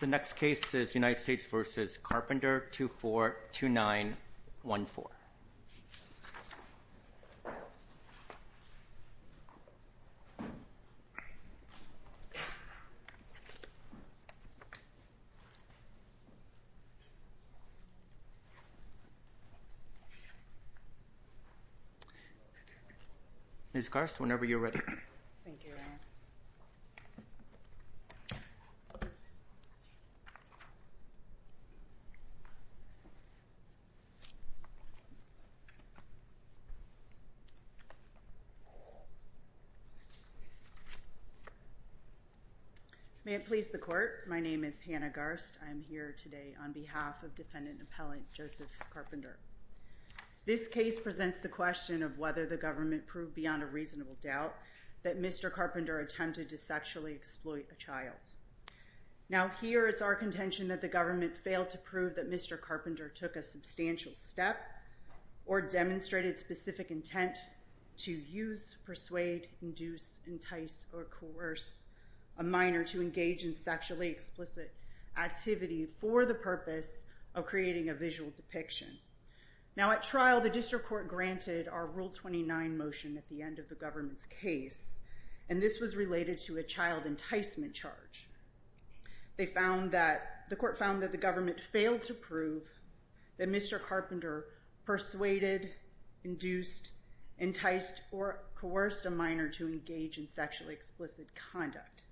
The next case is United States v. Carpenter, 2-4-2-9-1-4. Ms. Garst, whenever you're ready. May it please the Court, my name is Hannah Garst. I'm here today on behalf of defendant-appellant Joseph Carpenter. This case presents the question of whether the government proved beyond a reasonable doubt that Mr. Carpenter attempted to sexually exploit a child. Now here it's our contention that the government failed to prove that Mr. Carpenter took a substantial step or demonstrated specific intent to use, persuade, induce, entice, or coerce a minor to engage in sexually explicit activity for the purpose of creating a visual depiction. Now at trial the district court granted our Rule 29 motion at the end of the government's case and this was related to a child enticement charge. They found that, the court found that the government failed to prove that Mr. Carpenter persuaded, induced, enticed, or coerced a minor to engage in sexually explicit conduct.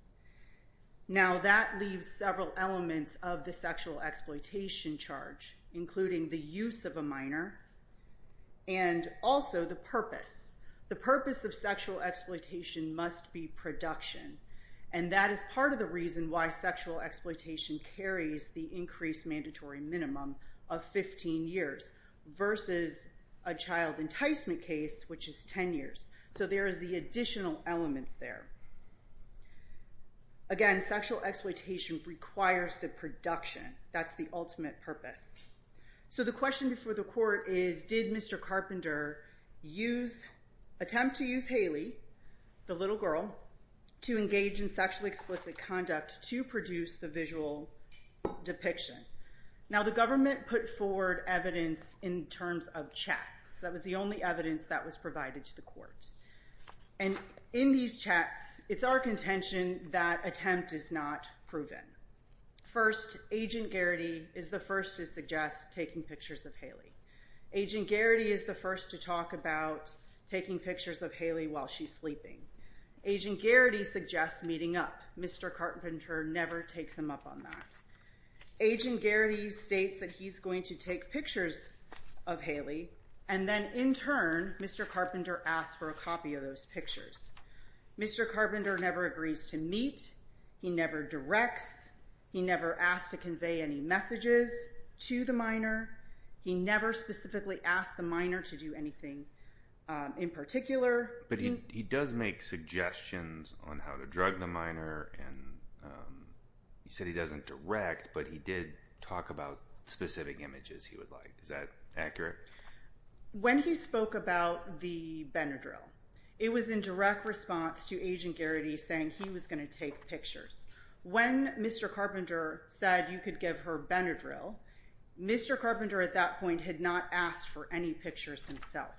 Now that leaves several elements of the sexual exploitation charge including the use of a minor and also the purpose. The purpose of sexual exploitation must be production and that is part of the reason why sexual exploitation carries the increased mandatory minimum of 15 years versus a child enticement case which is 10 years. So there is the additional elements there. Again, sexual exploitation requires the production. That's the ultimate purpose. So the question before the court is, did Mr. Carpenter attempt to use Haley, the little girl, to engage in sexually explicit conduct to produce the visual depiction? Now the government put forward evidence in terms of chats. That was the only evidence that was provided to the court. And in these chats, it's our contention that attempt is not proven. First, Agent Garrity is the first to suggest taking pictures of Haley. Agent Garrity is the first to talk about taking pictures of Haley while she's sleeping. Agent Garrity suggests meeting up. Mr. Carpenter never takes him up on that. Agent Garrity states that he's going to take pictures of Haley and then in turn, Mr. Carpenter asks for a copy of those pictures. Mr. Carpenter never agrees to meet. He never directs. He never asks to convey any messages to the minor. He never specifically asks the minor to do anything in particular. But he does make suggestions on how to drug the minor and he said he doesn't direct, but he did talk about specific images he would like. Is that accurate? When he spoke about the Benadryl, it was in direct response to Agent Garrity saying he was going to take pictures. When Mr. Carpenter said you could give her Benadryl, Mr. Carpenter at that point had not asked for any pictures himself.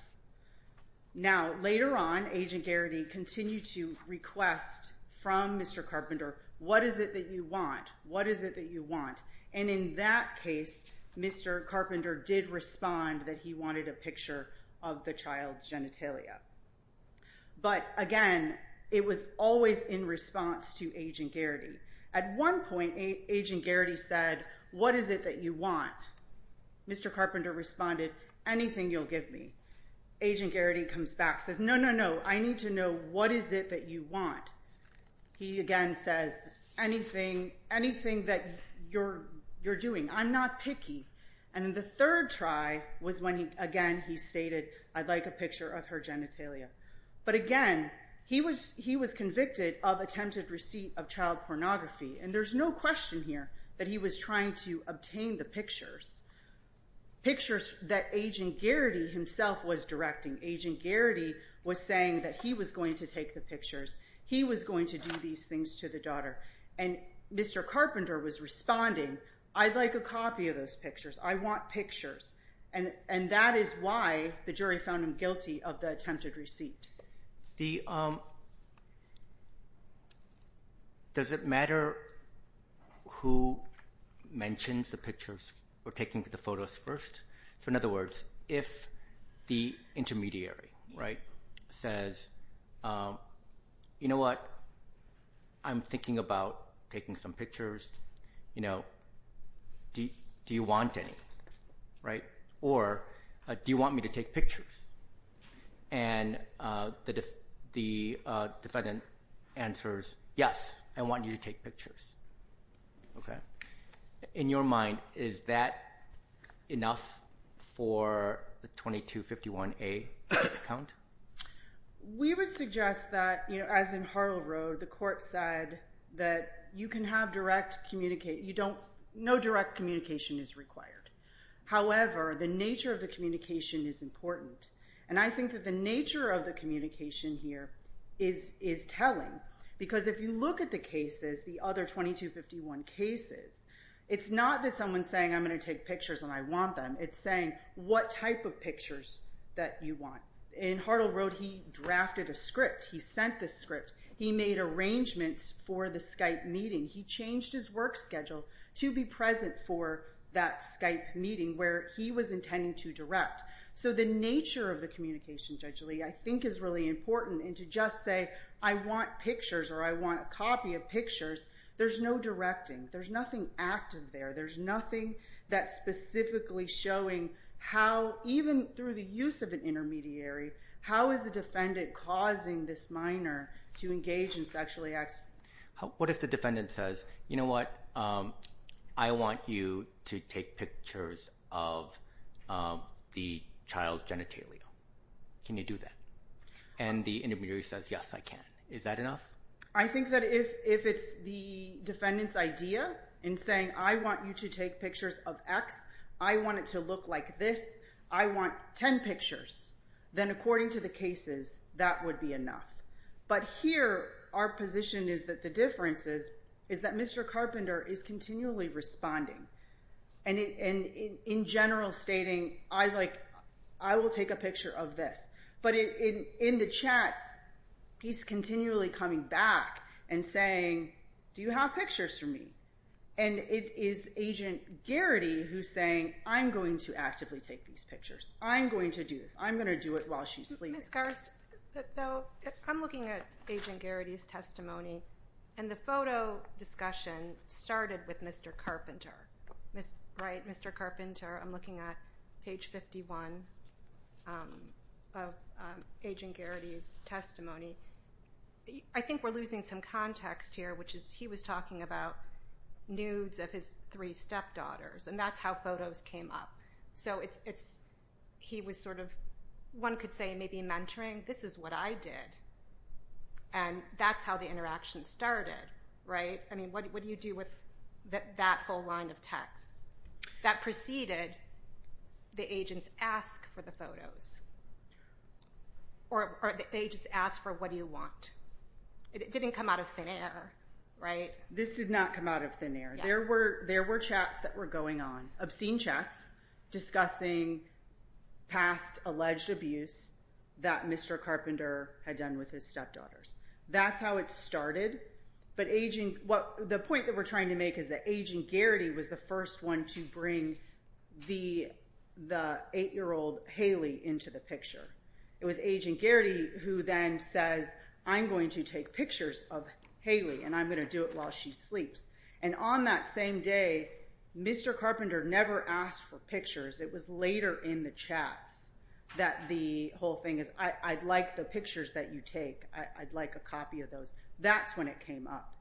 Now later on, Agent Garrity continued to request from Mr. Carpenter, what is it that you want? What is it that you want? And in that case, Mr. Carpenter did respond that he wanted a picture of the child's genitalia. But again, it was always in response to Agent Garrity. At one point, Agent Garrity said, what is it that you want? Mr. Carpenter responded, anything you'll give me. Agent Garrity comes back and says, no, no, no, I need to know what is it that you want. He again says, anything that you're doing. I'm not picky. And the third try was when again he stated, I'd like a picture of her genitalia. But again, he was convicted of attempted receipt of child pornography. And there's no question here that he was trying to obtain the pictures, pictures that Agent Garrity himself was directing. Agent Garrity was saying that he was going to take the pictures. He was going to do these things to the daughter. And Mr. Carpenter was responding, I'd like a copy of those pictures. I want pictures. And that is why the jury found him guilty of the attempted receipt. Does it matter who mentions the pictures or taking the photos first? In other words, if the intermediary says, you know what? I'm thinking about taking some pictures. Do you want any? Or do you want me to take pictures? And the defendant answers, yes, I want you to take pictures. In your mind, is that enough for the 2251A count? We would suggest that, as in Hartle Road, the court said that you can have direct communication. No direct communication is required. However, the nature of the communication is important. And I think that the nature of the communication here is telling. Because if you look at the cases, the other 2251 cases, it's not that someone's saying I'm going to take pictures and I want them. It's saying what type of pictures that you want. In Hartle Road, he drafted a script. He sent the script. He made arrangements for the Skype meeting. He changed his work schedule to be present for that Skype meeting where he was intending to direct. So the nature of the communication, Judge Lee, I think is really important. And to just say I want pictures or I want a copy of pictures, there's no directing. There's nothing active there. There's nothing that's specifically showing how, even through the use of an intermediary, how is the defendant causing this minor to engage in sexually acts? What if the defendant says, you know what? I want you to take pictures of the child's genitalia. Can you do that? And the intermediary says, yes, I can. Is that enough? I think that if it's the defendant's idea in saying I want you to take pictures of X, I want it to look like this, I want 10 pictures, then according to the cases, that would be enough. But here our position is that the difference is that Mr. Carpenter is continually responding and in general stating I will take a picture of this. But in the chats, he's continually coming back and saying do you have pictures for me? And it is Agent Garrity who's saying I'm going to actively take these pictures. I'm going to do this. I'm going to do it while she's sleeping. Ms. Garst, though, I'm looking at Agent Garrity's testimony, and the photo discussion started with Mr. Carpenter, right? Mr. Carpenter. I'm looking at page 51 of Agent Garrity's testimony. I think we're losing some context here, which is he was talking about nudes of his three stepdaughters, and that's how photos came up. So he was sort of, one could say maybe mentoring. This is what I did, and that's how the interaction started, right? I mean, what do you do with that whole line of text? That preceded the agent's ask for the photos, or the agent's ask for what do you want. It didn't come out of thin air, right? This did not come out of thin air. There were chats that were going on, obscene chats discussing past alleged abuse that Mr. Carpenter had done with his stepdaughters. That's how it started. But the point that we're trying to make is that Agent Garrity was the first one to bring the 8-year-old Haley into the picture. It was Agent Garrity who then says, I'm going to take pictures of Haley, and I'm going to do it while she sleeps. And on that same day, Mr. Carpenter never asked for pictures. It was later in the chats that the whole thing is, I'd like the pictures that you take. I'd like a copy of those. That's when it came up.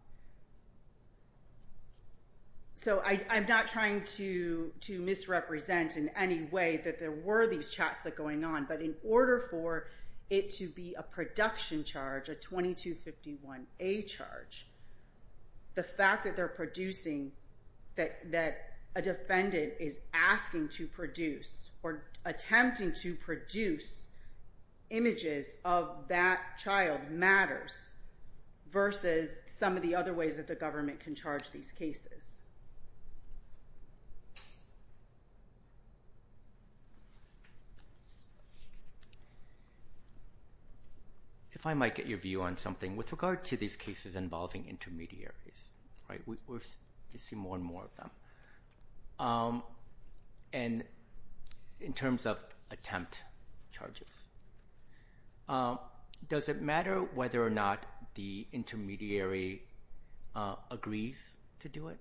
So I'm not trying to misrepresent in any way that there were these chats going on, but in order for it to be a production charge, a 2251A charge, the fact that they're producing that a defendant is asking to produce or attempting to produce images of that child matters versus some of the other ways that the government can charge these cases. If I might get your view on something with regard to these cases involving intermediaries. We see more and more of them. And in terms of attempt charges, does it matter whether or not the intermediary agrees to do it?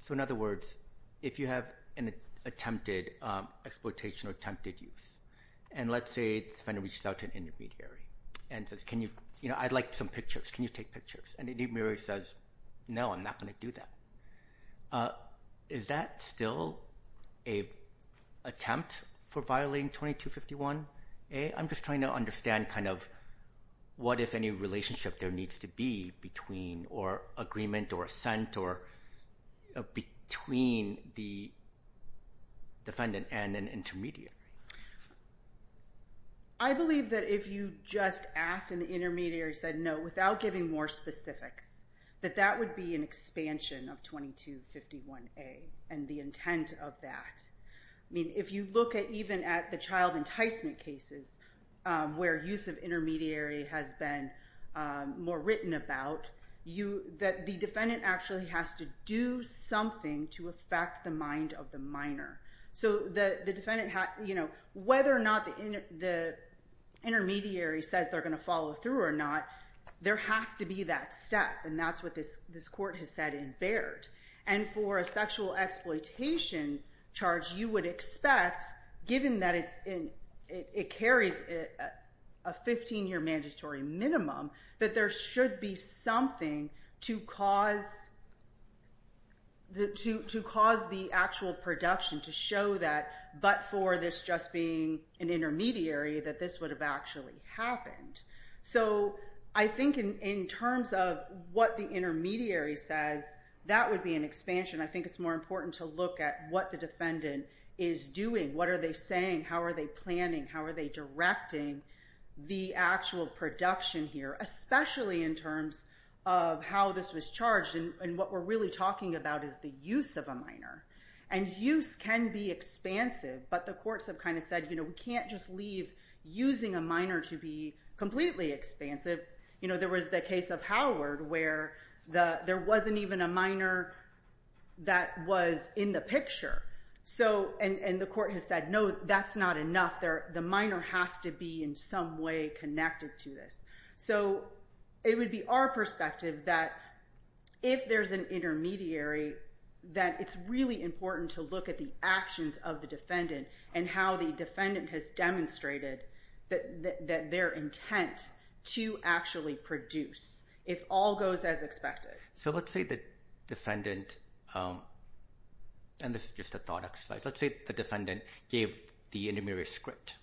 So in other words, if you have an attempted exploitation or attempted use, and let's say the defendant reaches out to an intermediary and says, I'd like some pictures. Can you take pictures? And the intermediary says, no, I'm not going to do that. Is that still an attempt for violating 2251A? I'm just trying to understand kind of what, if any, relationship there needs to be between or agreement or assent between the defendant and an intermediary. I believe that if you just asked and the intermediary said no without giving more specifics, that that would be an expansion of 2251A and the intent of that. I mean, if you look at even at the child enticement cases where use of intermediary has been more written about, the defendant actually has to do something to affect the mind of the minor. So whether or not the intermediary says they're going to follow through or not, there has to be that step. And that's what this court has said in Baird. And for a sexual exploitation charge, you would expect, given that it carries a 15-year mandatory minimum, that there should be something to cause the actual production to show that, but for this just being an intermediary, that this would have actually happened. So I think in terms of what the intermediary says, that would be an expansion. I think it's more important to look at what the defendant is doing. What are they saying? How are they planning? How are they directing the actual production here, especially in terms of how this was charged? And what we're really talking about is the use of a minor. And use can be expansive, but the courts have kind of said, we can't just leave using a minor to be completely expansive. There was the case of Howard where there wasn't even a minor that was in the picture. And the court has said, no, that's not enough. The minor has to be in some way connected to this. So it would be our perspective that if there's an intermediary, that it's really important to look at the actions of the defendant and how the defendant has demonstrated that their intent to actually produce, if all goes as expected. So let's say the defendant, and this is just a thought exercise, let's say the defendant gave the intermediary a script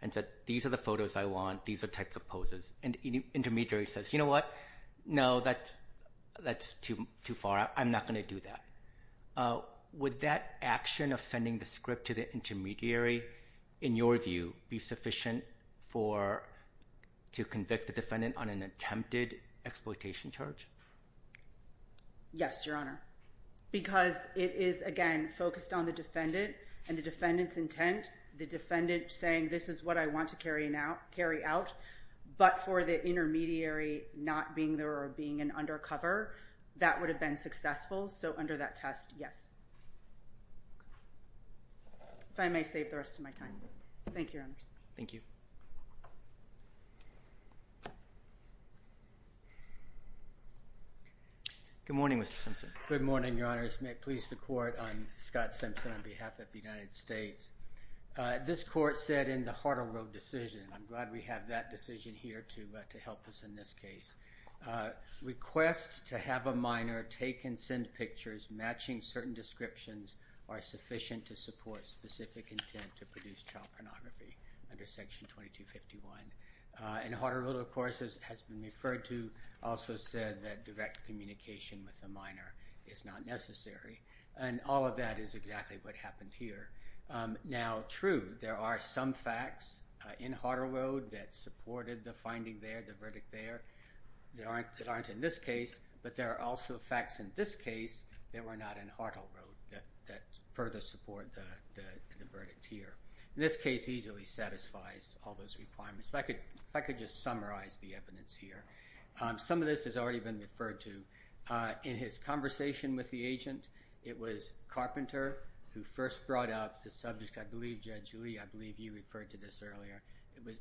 and said these are the photos I want, these are types of poses, and the intermediary says, you know what, no, that's too far, I'm not going to do that. Would that action of sending the script to the intermediary, in your view, be sufficient to convict the defendant on an attempted exploitation charge? Yes, Your Honor, because it is, again, focused on the defendant and the defendant's intent, the defendant saying this is what I want to carry out, but for the intermediary not being there or being an undercover, that would have been successful. So under that test, yes. If I may save the rest of my time. Thank you, Your Honors. Thank you. Good morning, Mr. Simpson. Good morning, Your Honors. May it please the Court, I'm Scott Simpson on behalf of the United States. This Court said in the Hartle Road decision, I'm glad we have that decision here to help us in this case, requests to have a minor take and send pictures matching certain descriptions are sufficient to support specific intent to produce child pornography under Section 2251. And Hartle Road, of course, has been referred to, also said that direct communication with a minor is not necessary. And all of that is exactly what happened here. Now, true, there are some facts in Hartle Road that supported the finding there, the verdict there, that aren't in this case, but there are also facts in this case that were not in Hartle Road that further support the verdict here. And this case easily satisfies all those requirements. If I could just summarize the evidence here. Some of this has already been referred to. In his conversation with the agent, it was Carpenter who first brought up the subject. I believe, Judge Lee, I believe you referred to this earlier.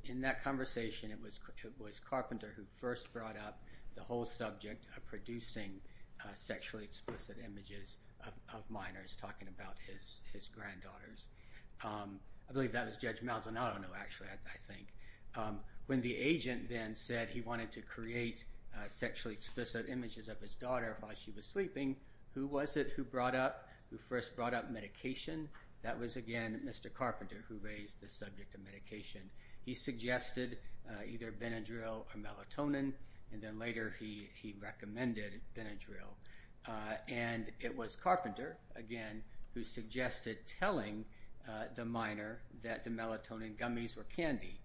In that conversation, it was Carpenter who first brought up the whole subject of producing sexually explicit images of minors, talking about his granddaughters. I believe that was Judge Malzahnado, actually, I think. When the agent then said he wanted to create sexually explicit images of his daughter while she was sleeping, who was it who first brought up medication? That was, again, Mr. Carpenter who raised the subject of medication. He suggested either Benadryl or melatonin, and then later he recommended Benadryl. And it was Carpenter, again, who suggested telling the minor that the melatonin gummies were candy.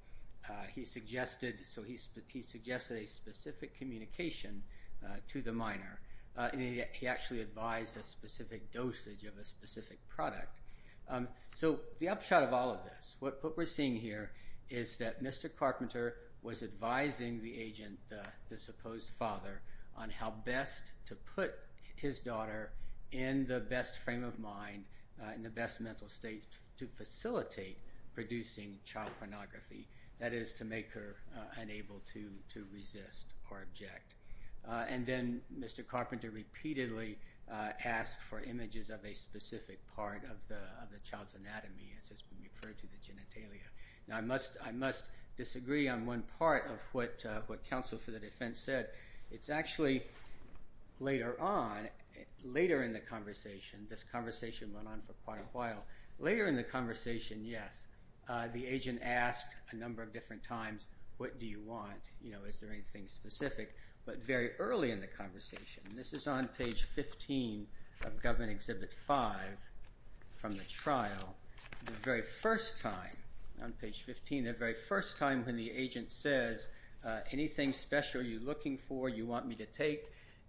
He suggested a specific communication to the minor. He actually advised a specific dosage of a specific product. The upshot of all of this, what we're seeing here, is that Mr. Carpenter was advising the agent, the supposed father, on how best to put his daughter in the best frame of mind, in the best mental state, to facilitate producing child pornography, that is, to make her unable to resist or object. And then Mr. Carpenter repeatedly asked for images of a specific part of the child's anatomy, as has been referred to, the genitalia. Now, I must disagree on one part of what counsel for the defense said. It's actually later on, later in the conversation, this conversation went on for quite a while, later in the conversation, yes, the agent asked a number of different times, what do you want, is there anything specific, but very early in the conversation, this is on page 15 of Government Exhibit 5 from the trial, the very first time, on page 15, the very first time when the agent says, anything special you're looking for, you want me to take,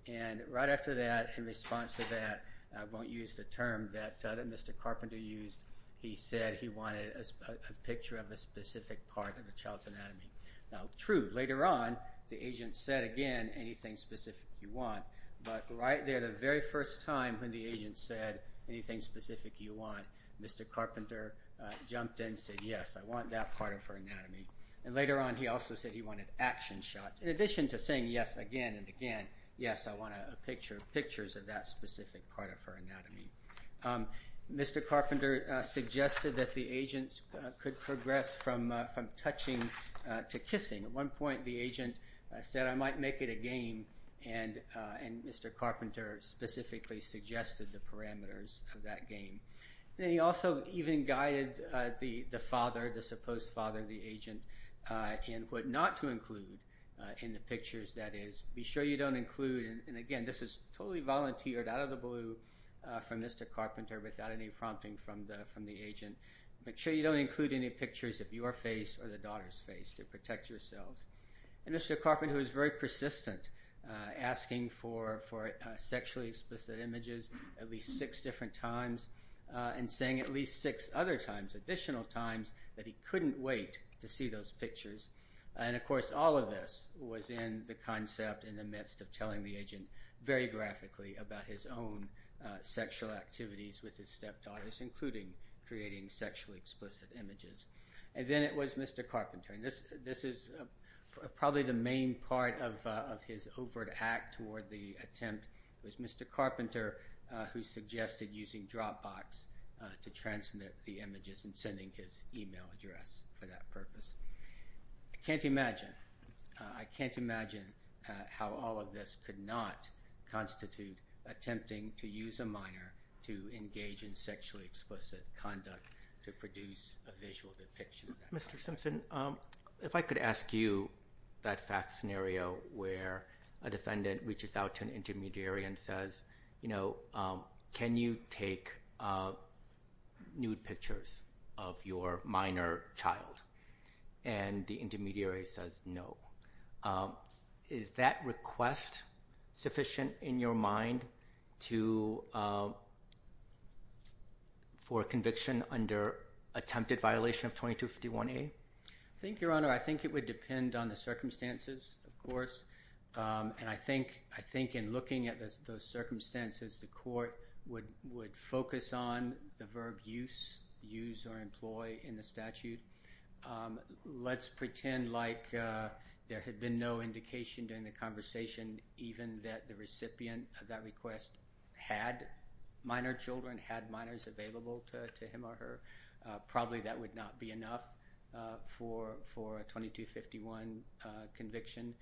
and right after that, in response to that, I won't use the term that Mr. Carpenter used, he said he wanted a picture of a specific part of the child's anatomy. Now, true, later on, the agent said again, anything specific you want, but right there, the very first time when the agent said, anything specific you want, Mr. Carpenter jumped in and said, yes, I want that part of her anatomy. And later on, he also said he wanted action shots. In addition to saying yes again and again, yes, I want a picture, pictures of that specific part of her anatomy. Mr. Carpenter suggested that the agent could progress from touching to kissing. At one point, the agent said, I might make it a game, and Mr. Carpenter specifically suggested the parameters of that game. Then he also even guided the father, the supposed father, the agent, in what not to include in the pictures, that is, be sure you don't include, and again, this is totally volunteered out of the blue from Mr. Carpenter without any prompting from the agent, make sure you don't include any pictures of your face or the daughter's face to protect yourselves. And Mr. Carpenter was very persistent, asking for sexually explicit images at least six different times and saying at least six other times, additional times, that he couldn't wait to see those pictures. And of course, all of this was in the concept in the midst of telling the agent very graphically about his own sexual activities with his stepdaughters, including creating sexually explicit images. And then it was Mr. Carpenter, and this is probably the main part of his overt act toward the attempt. It was Mr. Carpenter who suggested using Dropbox to transmit the images and sending his e-mail address for that purpose. I can't imagine how all of this could not constitute attempting to use a minor to engage in sexually explicit conduct to produce a visual depiction of that. Mr. Simpson, if I could ask you that fact scenario where a defendant reaches out to an intermediary and says, you know, can you take nude pictures of your minor child? And the intermediary says no. Is that request sufficient in your mind for conviction under attempted violation of 2251A? I think, Your Honor, I think it would depend on the circumstances, of course. And I think in looking at those circumstances, the court would focus on the verb use, use or employ in the statute. Let's pretend like there had been no indication during the conversation even that the recipient of that request had minor children, had minors available to him or her. Probably that would not be enough for a 2251 conviction.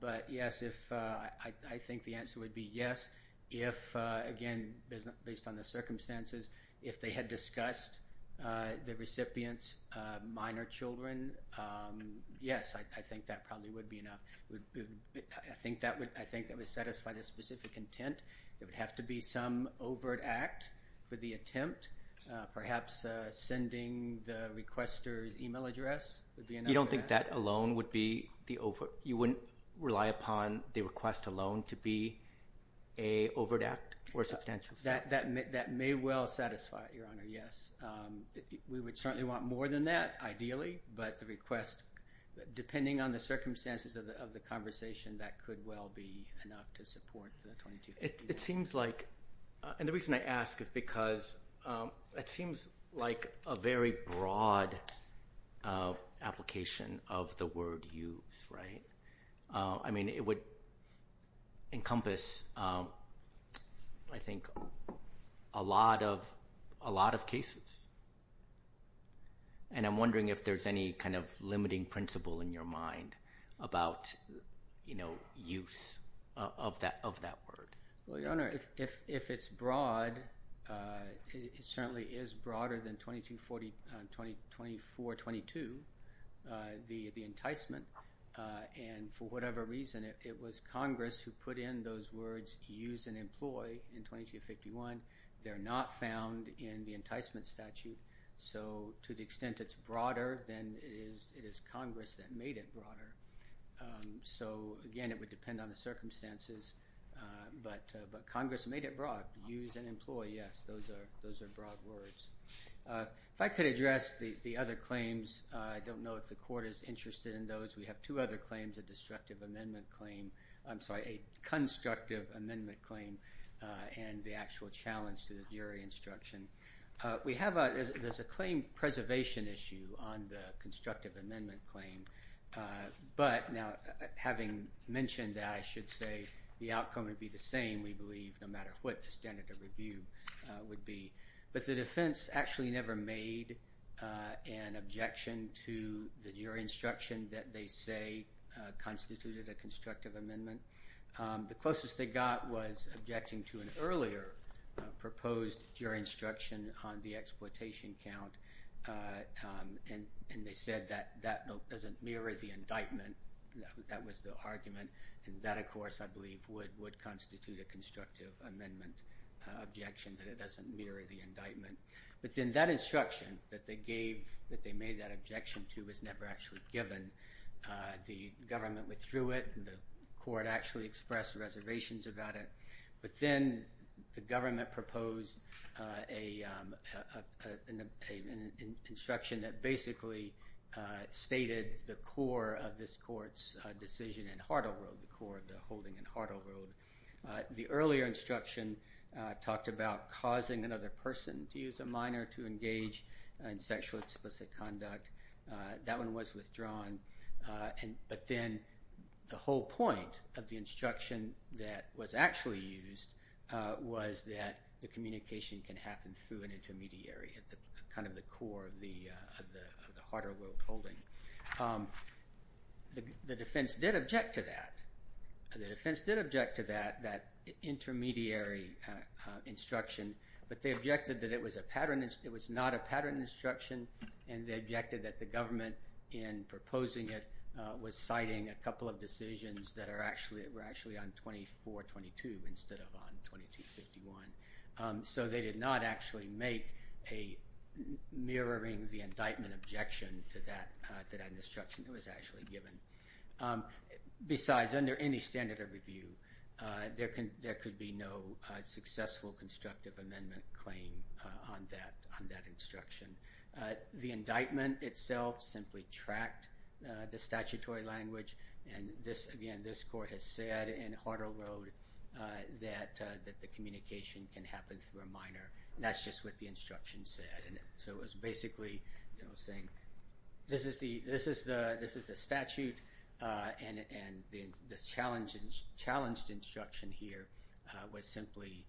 But, yes, I think the answer would be yes if, again, based on the circumstances, if they had discussed the recipient's minor children, yes, I think that probably would be enough. I think that would satisfy the specific intent. There would have to be some overt act for the attempt. Perhaps sending the requester's e-mail address would be enough for that. You wouldn't rely upon the request alone to be an overt act or substantial? That may well satisfy it, Your Honor, yes. We would certainly want more than that, ideally, but the request, depending on the circumstances of the conversation, that could well be enough to support the 2251. It seems like, and the reason I ask is because it seems like a very broad application of the word use. It would encompass, I think, a lot of cases. I'm wondering if there's any kind of limiting principle in your mind about use of that word. Well, Your Honor, if it's broad, it certainly is broader than 2422, the enticement. For whatever reason, it was Congress who put in those words use and employ in 2251. They're not found in the enticement statute. So to the extent it's broader, then it is Congress that made it broader. So, again, it would depend on the circumstances, but Congress made it broad, use and employ. Yes, those are broad words. If I could address the other claims, I don't know if the Court is interested in those. We have two other claims, a constructive amendment claim and the actual challenge to the jury instruction. There's a claim preservation issue on the constructive amendment claim. But now, having mentioned that, I should say the outcome would be the same, we believe, no matter what the standard of review would be. But the defense actually never made an objection to the jury instruction that they say constituted a constructive amendment. The closest they got was objecting to an earlier proposed jury instruction on the exploitation count, and they said that that doesn't mirror the indictment. That was the argument. And that, of course, I believe, would constitute a constructive amendment objection, that it doesn't mirror the indictment. But then that instruction that they gave, that they made that objection to, was never actually given. The government withdrew it, and the Court actually expressed reservations about it. But then the government proposed an instruction that basically stated the core of this Court's decision in Hartle Road, the core of the holding in Hartle Road. The earlier instruction talked about causing another person to use a minor to engage in sexually explicit conduct. That one was withdrawn. But then the whole point of the instruction that was actually used was that the communication can happen through an intermediary, kind of the core of the Hartle Road holding. The defense did object to that. The defense did object to that intermediary instruction, but they objected that it was not a pattern instruction, and they objected that the government in proposing it was citing a couple of decisions that were actually on 2422 instead of on 2251. So they did not actually make a mirroring the indictment objection to that instruction that was actually given. Besides, under any standard of review, there could be no successful constructive amendment claim on that instruction. The indictment itself simply tracked the statutory language, and again, this Court has said in Hartle Road that the communication can happen through a minor. That's just what the instruction said. So it was basically saying this is the statute, and the challenged instruction here was simply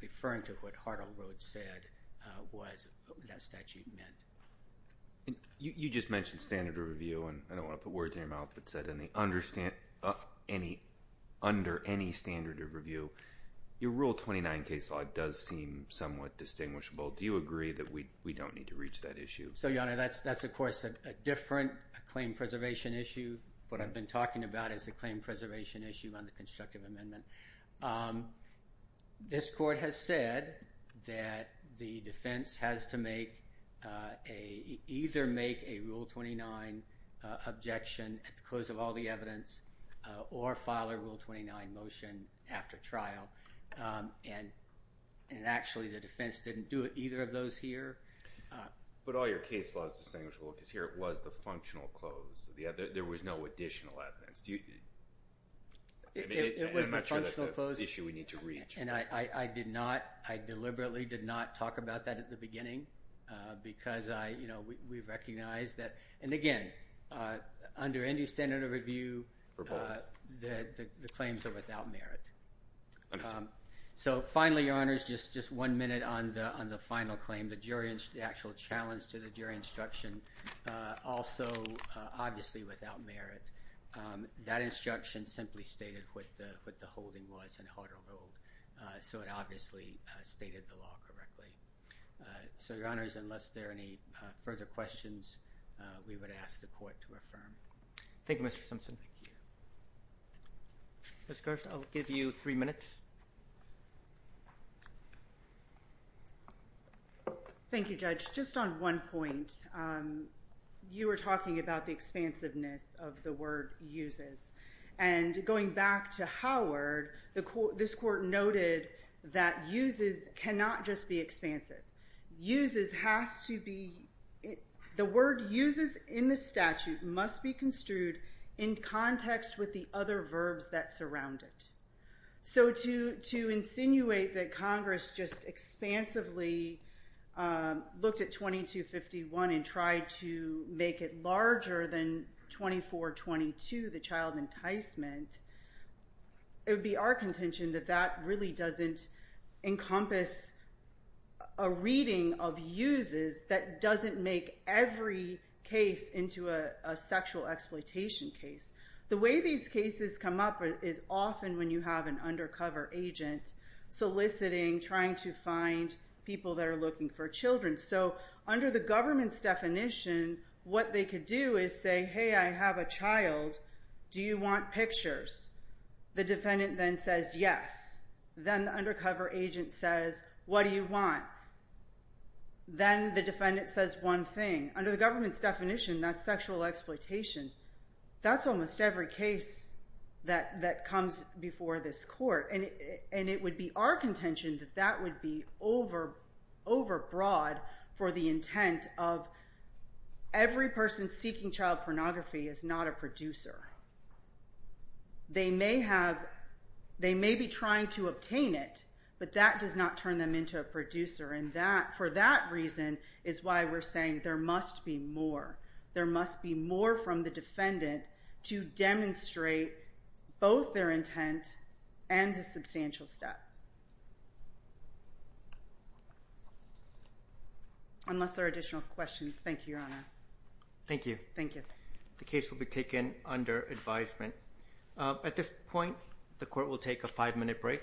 referring to what Hartle Road said was what that statute meant. You just mentioned standard of review, and I don't want to put words in your mouth that said under any standard of review. Your Rule 29 case law does seem somewhat distinguishable. Do you agree that we don't need to reach that issue? Your Honor, that's of course a different claim preservation issue. What I've been talking about is the claim preservation issue on the constructive amendment. This Court has said that the defense has to either make a Rule 29 objection at the close of all the evidence or file a Rule 29 motion after trial. Actually, the defense didn't do either of those here. But all your case law is distinguishable because here it was the functional close. There was no additional evidence. I'm not sure that's an issue we need to reach. I deliberately did not talk about that at the beginning because we've recognized that, and again, under any standard of review, the claims are without merit. So finally, Your Honors, just one minute on the final claim. The actual challenge to the jury instruction, also obviously without merit. That instruction simply stated what the holding was in Hartle Road, so it obviously stated the law correctly. So, Your Honors, unless there are any further questions, we would ask the Court to affirm. Thank you, Mr. Simpson. Ms. Garst, I'll give you three minutes. Thank you, Judge. Just on one point, you were talking about the expansiveness of the word uses. And going back to Howard, this Court noted that uses cannot just be expansive. The word uses in the statute must be construed in context with the other verbs that surround it. So to insinuate that Congress just expansively looked at 2251 and tried to make it larger than 2422, the child enticement, it would be our contention that that really doesn't encompass a reading of uses that doesn't make every case into a sexual exploitation case. The way these cases come up is often when you have an undercover agent soliciting, trying to find people that are looking for children. So under the government's definition, what they could do is say, hey, I have a child. Do you want pictures? The defendant then says yes. Then the undercover agent says, what do you want? Then the defendant says one thing. Under the government's definition, that's sexual exploitation. That's almost every case that comes before this Court. And it would be our contention that that would be overbroad for the intent of every person seeking child pornography is not a producer. They may be trying to obtain it, but that does not turn them into a producer. And for that reason is why we're saying there must be more. There must be more from the defendant to demonstrate both their intent and the substantial step. Unless there are additional questions. Thank you, Your Honor. Thank you. Thank you. The case will be taken under advisement. At this point, the Court will take a five-minute break.